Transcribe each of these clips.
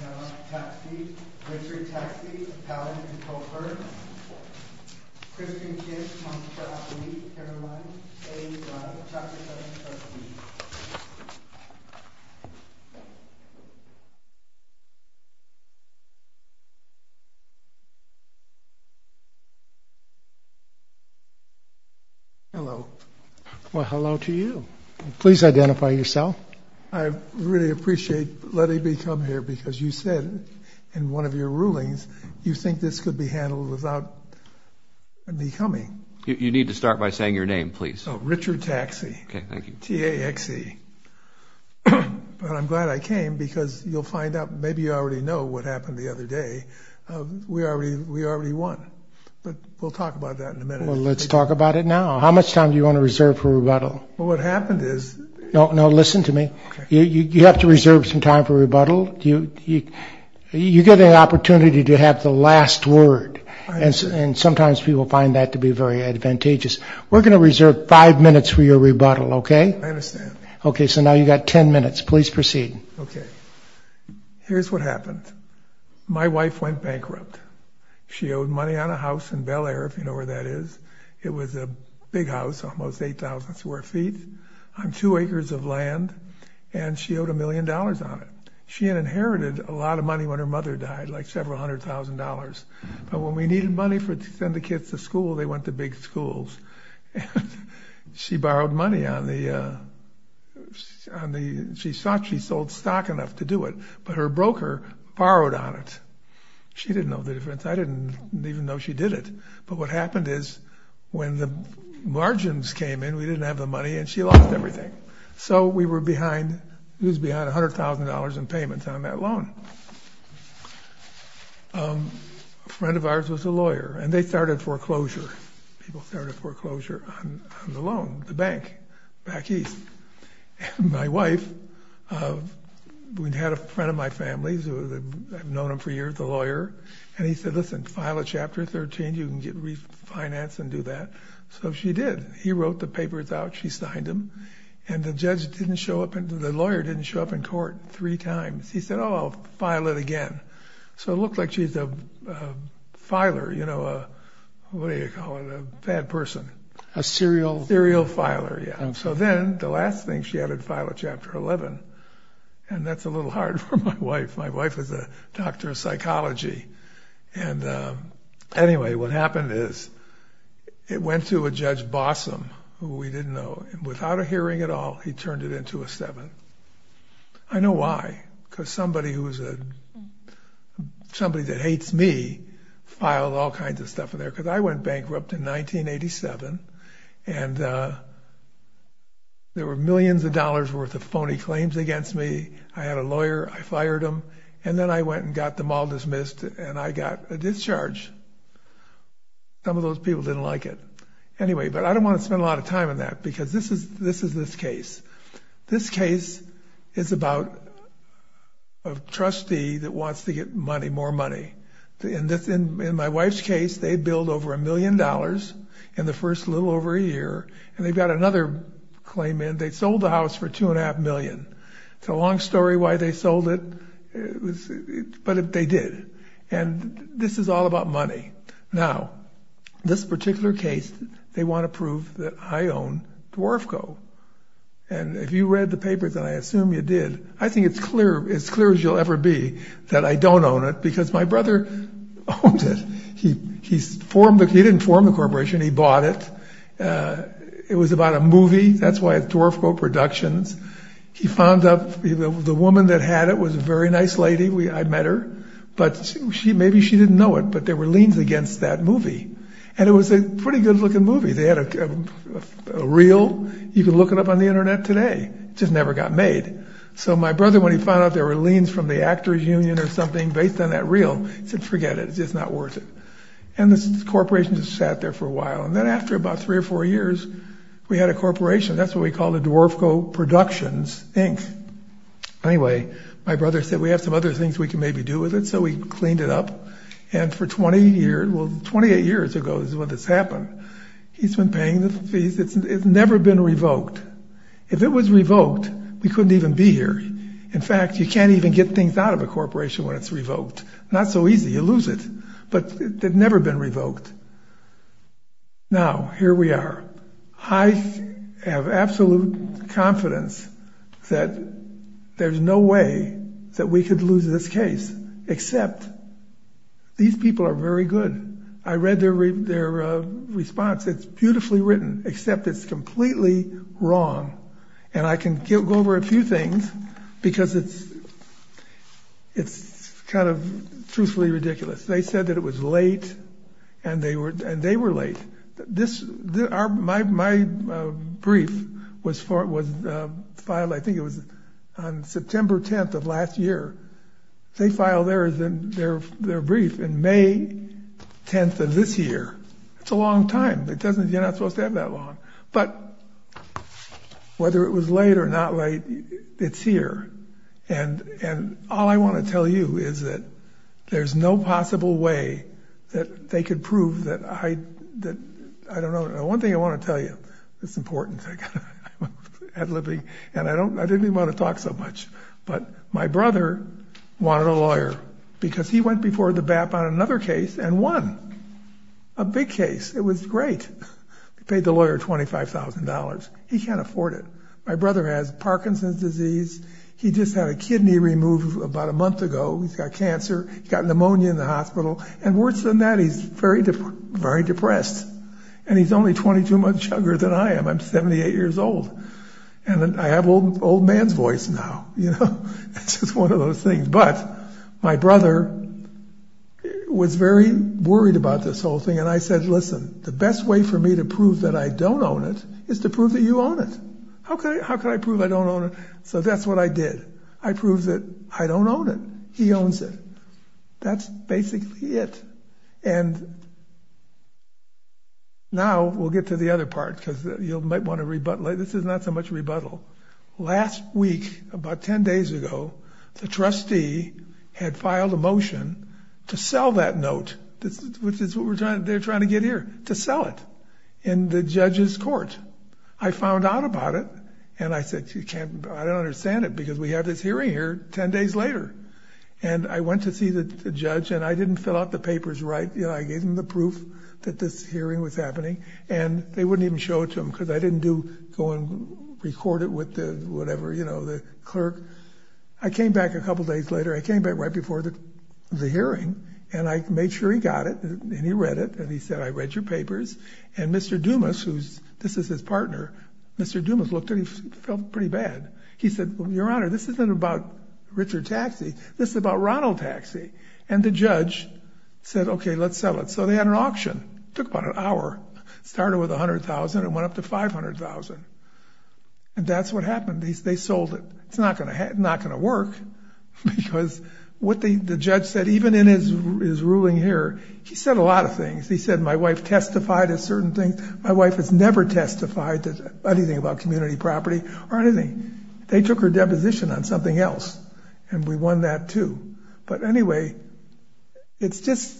Counselor texie, Pallant, co-operative Christine ish, Carolines, A lunch. 까 Hello. Hello to you. Please identify yourself. I really appreciate letting me come here because you said in one of your rulings you think this could be handled without me coming. You need to start by saying your name, please. Richard texie. I'm glad I came because you'll find out maybe you already know what happened the other day. We already won. But we'll talk about that in a minute. Let's talk about it now. How much time do you want to reserve for rebuttal? What happened is... No, listen to me. You have to reserve some time for rebuttal. You get an opportunity to have the last word. And sometimes people find that to be very advantageous. We're going to reserve five minutes for your rebuttal, okay? I understand. Okay, so now you've got ten minutes. Please proceed. Okay. Here's what happened. My wife went bankrupt. She owed money on a house in Bel Air, if you know where that is. It was a big house, almost 8,000 square feet on two acres of land and she owed a million dollars on it. She inherited a lot of money when her mother died, like several hundred thousand dollars. But when we needed money to send the kids to school, they went to big schools. She borrowed money on the... She thought she sold stock enough to do it, but her broker borrowed on it. She didn't know the difference. I didn't even know she did it. But what happened is when the margins came in, we didn't have the money and she lost everything. So we were behind... It was behind $100,000 in payments on that loan. A friend of ours was a lawyer and they started foreclosure. People started foreclosure on the loan, the bank, back east. And my wife, we had a friend of my family, I've known him for years, a lawyer, and he said, listen, file a Chapter 13, you can get refinance and do that. So she did. He wrote the papers out, she signed them, and the judge didn't show up... The lawyer didn't show up in the hearing. He didn't show up, file it again. So it looked like she's a filer, you know, what do you call it, a bad person. A serial... Serial filer, yeah. So then the last thing she had was file a Chapter 11, and that's a little hard for my wife. My wife is a doctor of psychology. Anyway, what happened is it went to a Judge Bossom, who we didn't know, and without a doubt, filed Chapter 11 in 1987. I know why, because somebody that hates me filed all kinds of stuff in there, because I went bankrupt in 1987, and there were millions of dollars worth of phony claims against me. I had a lawyer, I fired him, and then I went and got them all dismissed, and I got a discharge. Some of those people didn't like it. Anyway, but I don't want to spend a lot of time on that, because this is this case. This case is about a trustee that wants to get money, more money. In my wife's case, they billed over a million dollars in the first little over a year, and they've got another claim in. They sold the house for $2.5 million. It's a long story why they sold it, but they did. And this is all about money. Now, this particular case, they want to prove that I own the Dwarf Co. And if you read the paper that I assume you did, I think it's clear, as clear as you'll ever be, that I don't own it, because my brother owns it. He didn't form the corporation. He bought it. It was about a movie. That's why it's Dwarf Co. Productions. He found out the woman that had it was a very nice lady. I met her, but maybe she didn't know it, but there were liens against that movie. And it was a pretty good-looking movie. They had a reel. You can look it up on the Internet today. It just never got made. So my brother, when he found out there were liens from the actors union or something based on that reel, he said, forget it. It's just not worth it. And the corporation just sat there for a while, and then after about three or four years, we had a corporation. That's what we call the Dwarf Co. That was 28 years ago is when this happened. He's been paying the fees. It's never been revoked. If it was revoked, we couldn't even be here. In fact, you can't even get things out of a corporation when it's revoked. Not so easy. You lose it. But it's never been revoked. Now, here we are. I have absolute confidence that there's no way that we could lose this case, except these people are very good. I read their response. It's beautifully written, except it's completely wrong. And I can go over a few things because it's kind of truthfully ridiculous. They said that it was late, and they were late. My brief was filed, I think it year. They filed their brief in May of this year. And they were late. And they were late. It's been a long time. It's been May 10th of this year. It's a long time. You're not supposed to have that long. But whether it was late or not late, it's here. And all I want to tell you is that there's no possible way that they could prove that I don't know. One thing I want to tell you that's important. I didn't even want to talk so much. But my brother wanted a lawyer because he went before the BAP on another case and won. A big case. It was great. He paid the lawyer $25,000. He can't afford it. My brother has Parkinson's disease. He just had a kidney removed about a month ago. He's got cancer. He's got pneumonia in the hospital. And worse than that, he's very depressed. And he's only 22 months younger than I am. I'm 78 years old. And I have old man's voice now, you know. It's just one of those things. But my brother was very worried about this whole thing, and I said, listen, the best way for me to prove that I don't own it is to prove that you own it. How could I prove I don't own it? So that's what I did. I proved that I don't own it. He owns it. That's basically it. And now we'll get to the other part because you might want to rebuttalize. This is not so much rebuttal. Last week, about 10 days ago, the trustee had filed a motion to sell that note, which is what they're trying to get here, to sell it in the judge's court. I found out about it, and I said, I don't understand it because we have this hearing here 10 days later. And I went to see the judge, and I didn't fill out the papers right. I gave them the proof that this hearing was happening, and they wouldn't even show it to them because I didn't go and record it with the whatever, you know, the clerk. I came back a couple days later. I came back right before the hearing, and I made sure he got it, and he read it, and he said, I read your papers. And Mr. Dumas, who's this is his partner, Mr. Dumas looked at it and he felt pretty bad. He said, Your Honor, this isn't about Richard Taxi. This is about Ronald Taxi. And the judge said, okay, let's sell it. So they had an auction. Took about an hour. Started with $100,000 and went up to $500,000. And that's what happened. They sold it. It's not going to work because what the judge said, even in his ruling here, he said a lot of things. He said, My wife testified of certain things. My wife has never testified anything about community property or anything. They took her deposition on something else, and we won that too. But anyway, it's just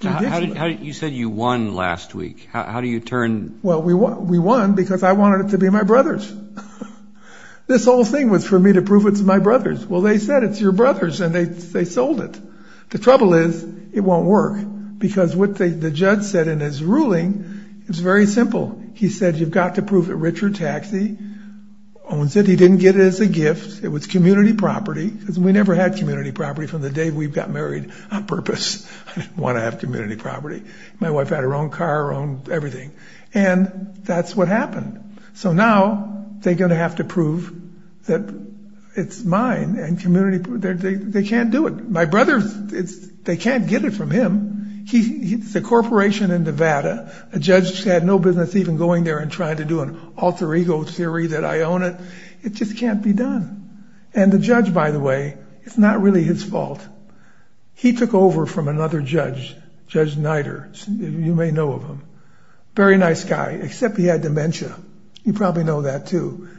traditional. You said you won last week. How do you turn? Well, we won because I wanted it to be my brother's. This whole thing was for me to prove it's my brother's. Well, they said it's your brother's, and they sold it. The trouble is, it won't work because what the judge said in his ruling is very simple. He said, You've got to prove that Richard Taxi owns it. He didn't get it as a gift. It was community property. We never had community property from the day we got married on purpose. I didn't want to have community property. My wife had her own car, her own house, everything. And that's what happened. So now they're going to have to prove that it's mine and community. They can't do it. My brother, they can't get it from him. He's a corporation in Nevada. The judge had no business even going there and trying to do an alter ego theory that I own it. It just can't be done. And the judge, by the way, it's not really his fault. He took over from another judge, Judge Nider. You may know of him. Very nice guy, except he had dementia. You probably know that, too.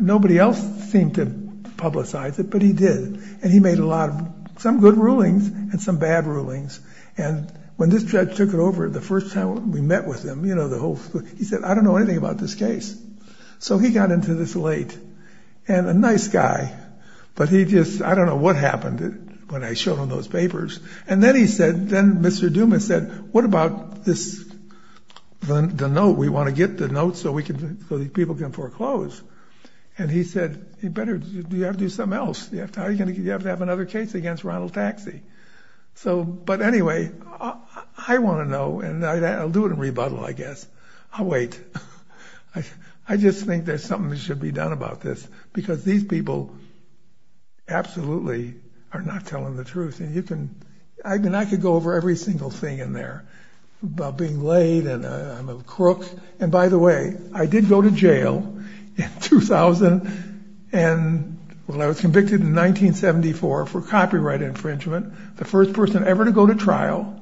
Nobody else seemed to publicize it, but he did. And he made a lot of, some good rulings and some bad rulings. And when this judge took it over the first time we met with him, you know, the whole, he said, I don't know anything about this case. So he got into this late. And a nice guy, but he just, I don't know what happened when I showed him those papers. And then he said, then Mr. Dumas said, what about this, the note? We want to get the note so we can, so these people can foreclose. And he said, you better, you have to do something else. How are you going to, you have to have another case against Ronald Taxi. So, but anyway, I want to know and I'll do it in rebuttal, I guess. I'll wait. I just think there's something that should be done about this because these people absolutely are not telling the truth. And you can, I mean, I could go over every single thing in there about being late and I'm a crook. And by the way, I did go to jail in 2000 and when I was convicted in 1974 for copyright infringement, the first person ever to go to trial,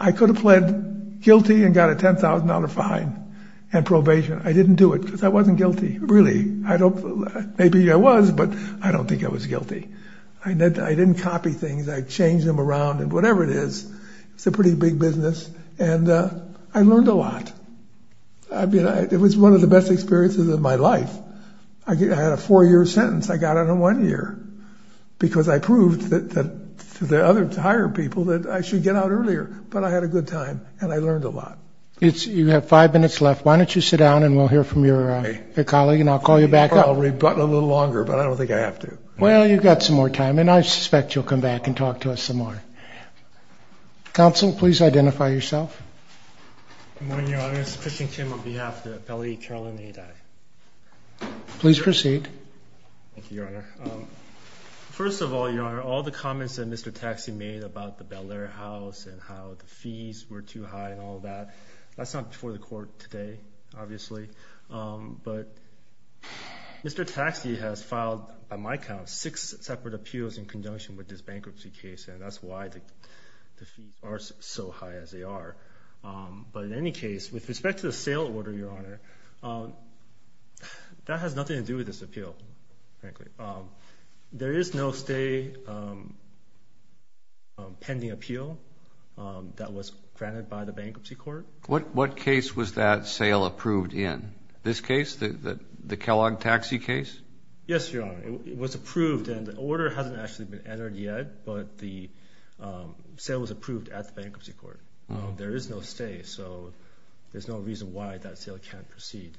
I could have pled guilty and got a $10,000 fine and probation. I didn't do it because I wasn't guilty, really. I don't, maybe I was, but I don't think I was guilty. I didn't copy things. I changed them around and whatever it is, it's a pretty big business and I learned a lot. I mean, it was one of the best experiences of my life. I had a four-year sentence. I got out in one year because I proved to the other hired people that I should get out earlier, but I had a good time and I learned a lot. You have five minutes left. Why don't you sit down and we'll hear from your colleague and I'll call you back up. I'll rebuttal a little longer, but I don't think I have to. Well, you've got some more time and I suspect you'll come back and talk to us some more. Counsel, please identify yourself. Good morning, Your Honor. This is Christian Kim on behalf of the appellee, Caroline Adai. Please proceed. Thank you, Your Honor. First of all, Your Honor, all the comments that Mr. Taxi made about the Bel-Air house and how the fees were too high and all that, that's not before the court today, obviously, but Mr. Taxi has filed, by my count, six separate appeals in conjunction with this bankruptcy case, and that's why the fees are so high as they are. But in any case, with respect to the sale order, Your Honor, that has nothing to do with this appeal, frankly. There is no stay pending appeal that was granted by the bankruptcy court. What case was that sale approved in? This case, the Kellogg Taxi case? Yes, Your Honor. It was approved and the order hasn't actually been entered yet, but the sale was approved at the bankruptcy court. There is no stay, so there's no reason why that sale can't proceed.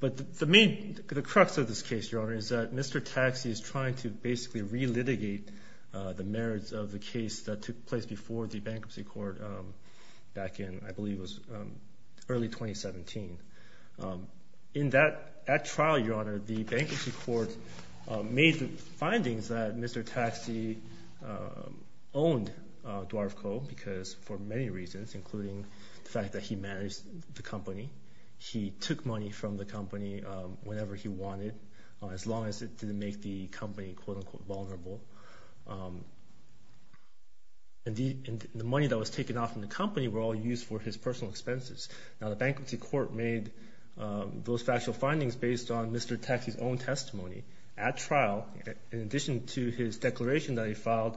But the main, the crux of this case, Your Honor, is that Mr. Taxi is trying to basically relitigate the merits of the case that took place before the bankruptcy court back in, I believe it was early 2017. In that trial, Your Honor, the findings that Mr. Taxi owned Dwarf Co. because for many reasons, including the fact that he managed the company, he took money from the company whenever he wanted, as long as it didn't make the company, quote unquote, vulnerable. And the money that was taken off from the company were all used for his personal expenses. Now, the bankruptcy court made those factual findings based on Mr. Taxi's own testimony at the time, in addition to his declaration that he filed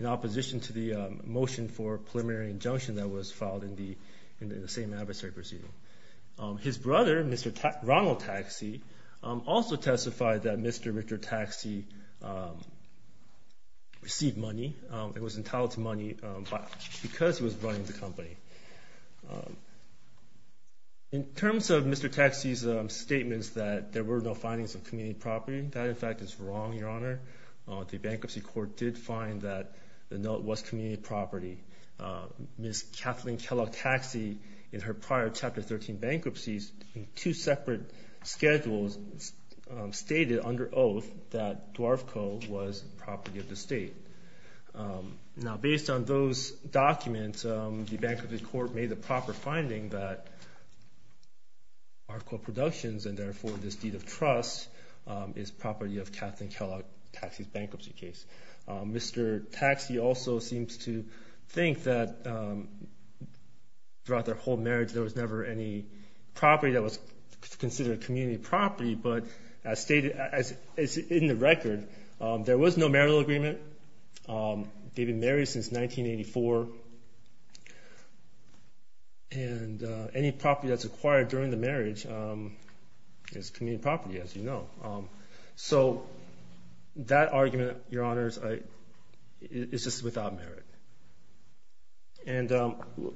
in opposition to the motion for preliminary injunction that was filed in the same adversary proceeding. His brother, Mr. Ronald Taxi, also testified that Mr. Richard Taxi received money and was entitled to money because he was running the company. In terms of Mr. Taxi's statements that there were no findings of community property, that, in fact, is wrong, Your Honor. The bankruptcy court did find that the note was community property. Ms. Kathleen Kellogg Taxi, in her prior Chapter 13 bankruptcies in two separate schedules, stated under oath that Dwarf Co. was property of the state. Now, based on those documents, the bankruptcy court made the proper finding that Dwarf Co. Productions, and therefore this state of trust, is property of Kathleen Kellogg Taxi's bankruptcy case. Mr. Taxi also seems to think that throughout their whole marriage there was never any property that was considered community property, but as stated, as in the record, there was no marital agreement. They've been married since 1984, and any property that's acquired during the marriage is community property, as you know. So that argument, Your Honor, is just without merit. And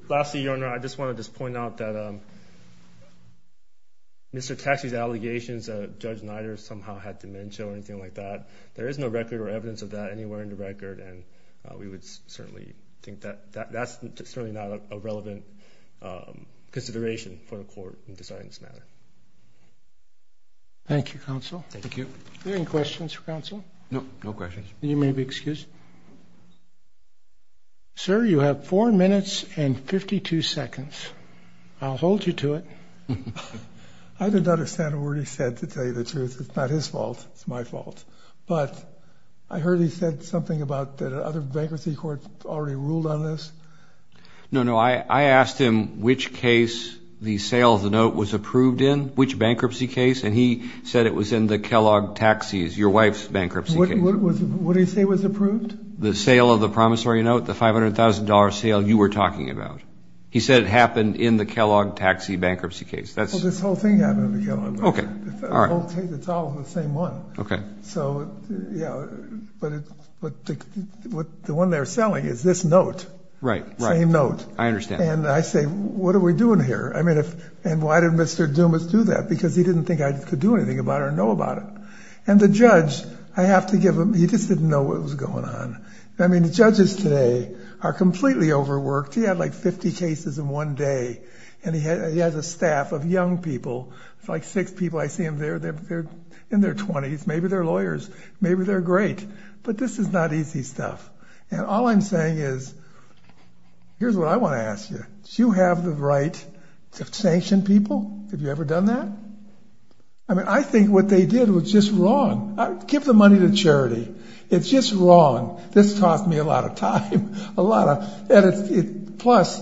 lastly, Your Honor, I just want to just point out that Mr. Taxi's allegations that Judge Nider somehow had dementia or anything like that, there is no record or evidence of that anywhere in the record, and we would certainly think that that's certainly not a relevant consideration for the court in Thank you, Counsel. Thank you. Are there any questions for Counsel? No, no questions. You may be excused. Sir, you have four minutes and 52 seconds. I'll hold you to it. I did not understand a word he said, to tell you the truth. It's not his fault. It's my fault. But I heard he said something about the other bankruptcy courts already ruled on this. No, no. I asked him which case the sale of the note was approved in, which bankruptcy case, and he said it was in the Kellogg Taxi, your wife's bankruptcy case. What did he say was approved? The sale of the promissory note, the $500,000 sale you were talking about. He said it happened in the Kellogg Taxi bankruptcy case. Well, this whole thing happened in the Kellogg. Okay, all right. It's all the same one. Okay. So, yeah, but the one they're selling is this note. Right, right. Same note. I understand. And I say, what are we doing here? I mean, and why did Mr. Dumas do that? Because he didn't think I could do anything about it or know about it. And the judge, I have to give him, he just didn't know what was going on. I mean, the judges today are completely overworked. He had like 50 cases in one day, and he has a staff of young people. It's like six people. I see them there. They're in their 20s. Maybe they're lawyers. Maybe they're great. But this is not easy stuff. And all I'm saying is, here's what I want to ask you. Do you have the right to sanction people? Have you ever done that? I mean, I think what they did was just wrong. Give the money to charity. It's just wrong. This cost me a lot of time, a lot of. Plus,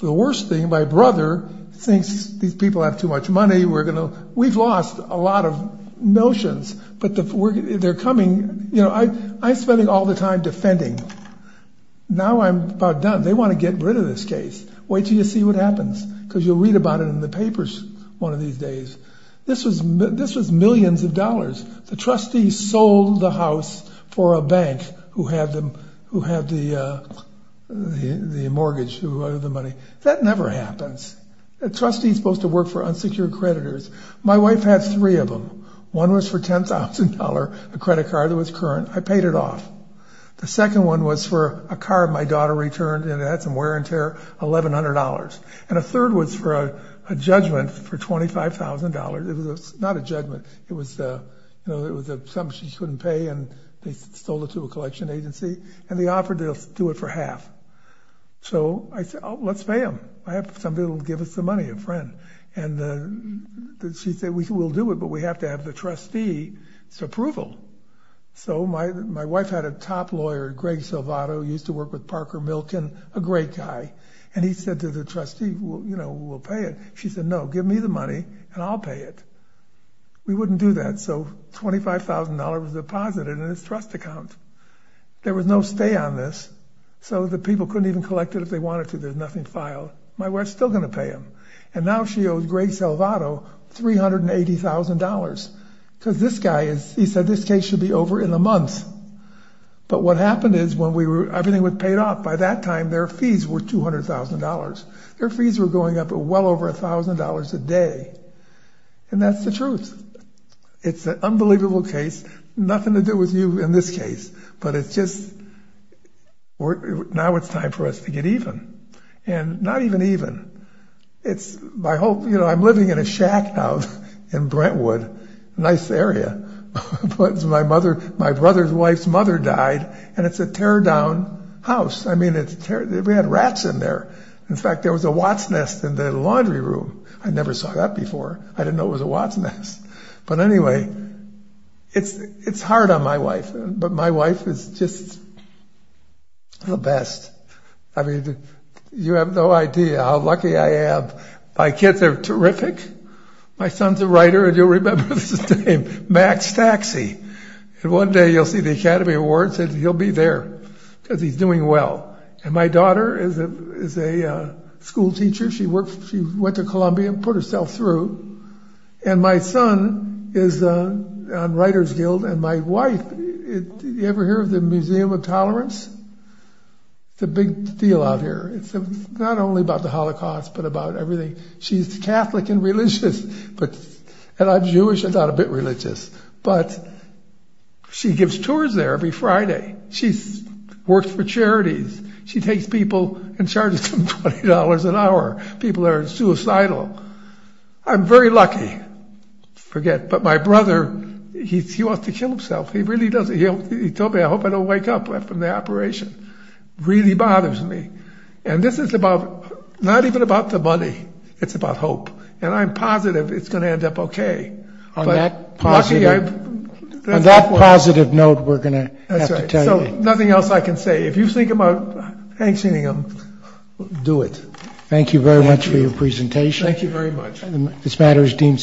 the worst thing, my brother thinks these people have too much money. We've lost a lot of notions. But they're coming. I'm spending all the time defending. Now I'm about done. They want to get rid of this case. Wait till you see what happens, because you'll read about it in the papers one of these days. This was millions of dollars. The trustees sold the house for a bank who had the mortgage, who had the money. That never happens. A trustee is supposed to work for unsecured creditors. My wife had three of them. One was for $10,000, a credit card that was current. I paid it off. The second one was for a car my daughter returned, and it had some wear and tear, $1,100. And a third was for a judgment for $25,000. It was not a judgment. It was something she couldn't pay, and they sold it to a collection agency. And they offered to do it for half. So I said, oh, let's pay them. I have somebody that will give us the money, a friend. And she said, we'll do it, but approval. So my wife had a top lawyer, Greg Silvato, who used to work with Parker Milken, a great guy. And he said to the trustee, you know, we'll pay it. She said, no, give me the money, and I'll pay it. We wouldn't do that. So $25,000 was deposited in his trust account. There was no stay on this, so the people couldn't even collect it if they wanted to. There's nothing filed. My wife's still going to pay them. And now she owes Greg Silvato $380,000, because this guy is, he said, this case should be over in a month. But what happened is when we were, everything was paid off. By that time, their fees were $200,000. Their fees were going up at well over $1,000 a day. And that's the truth. It's an unbelievable case. Nothing to do with you in this case. But it's just, now it's time for us to get even. And not even even. It's my whole, you know, I'm living in a shack now in Brentwood, a nice area. But my mother, my brother's wife's mother died, and it's a tear-down house. I mean, we had rats in there. In fact, there was a watsnest in the laundry room. I never saw that before. I didn't know it was a watsnest. But anyway, it's hard on my wife, but my wife is just the best. I mean, you have no idea how lucky I am. My kids are terrific. My son's a writer, and you'll remember his name, Max Taxi. And one day you'll see the Academy Awards, and he'll be there, because he's doing well. And my daughter is a school teacher. She went to Columbia and put herself through. And my son is on Writers Guild, and my wife, did you ever hear of the Museum of Tolerance? It's a big deal out here. It's not only about the Holocaust, but about everything. She's Catholic and religious, and I'm Jewish and not a bit religious. But she gives tours there every Friday. She works for charities. She takes people and charges them $20 an hour. People are suicidal. I'm very lucky. Forget. But my brother, he wants to kill himself. He really does. He told me, I hope I don't wake up from the operation. Really bothers me. And this is about, not even about the money. It's about hope. And I'm positive it's going to end up okay. But lucky I've... That's right. Nothing else I can say. If you think about... Do it. Thank you very much for your presentation. Thank you very much.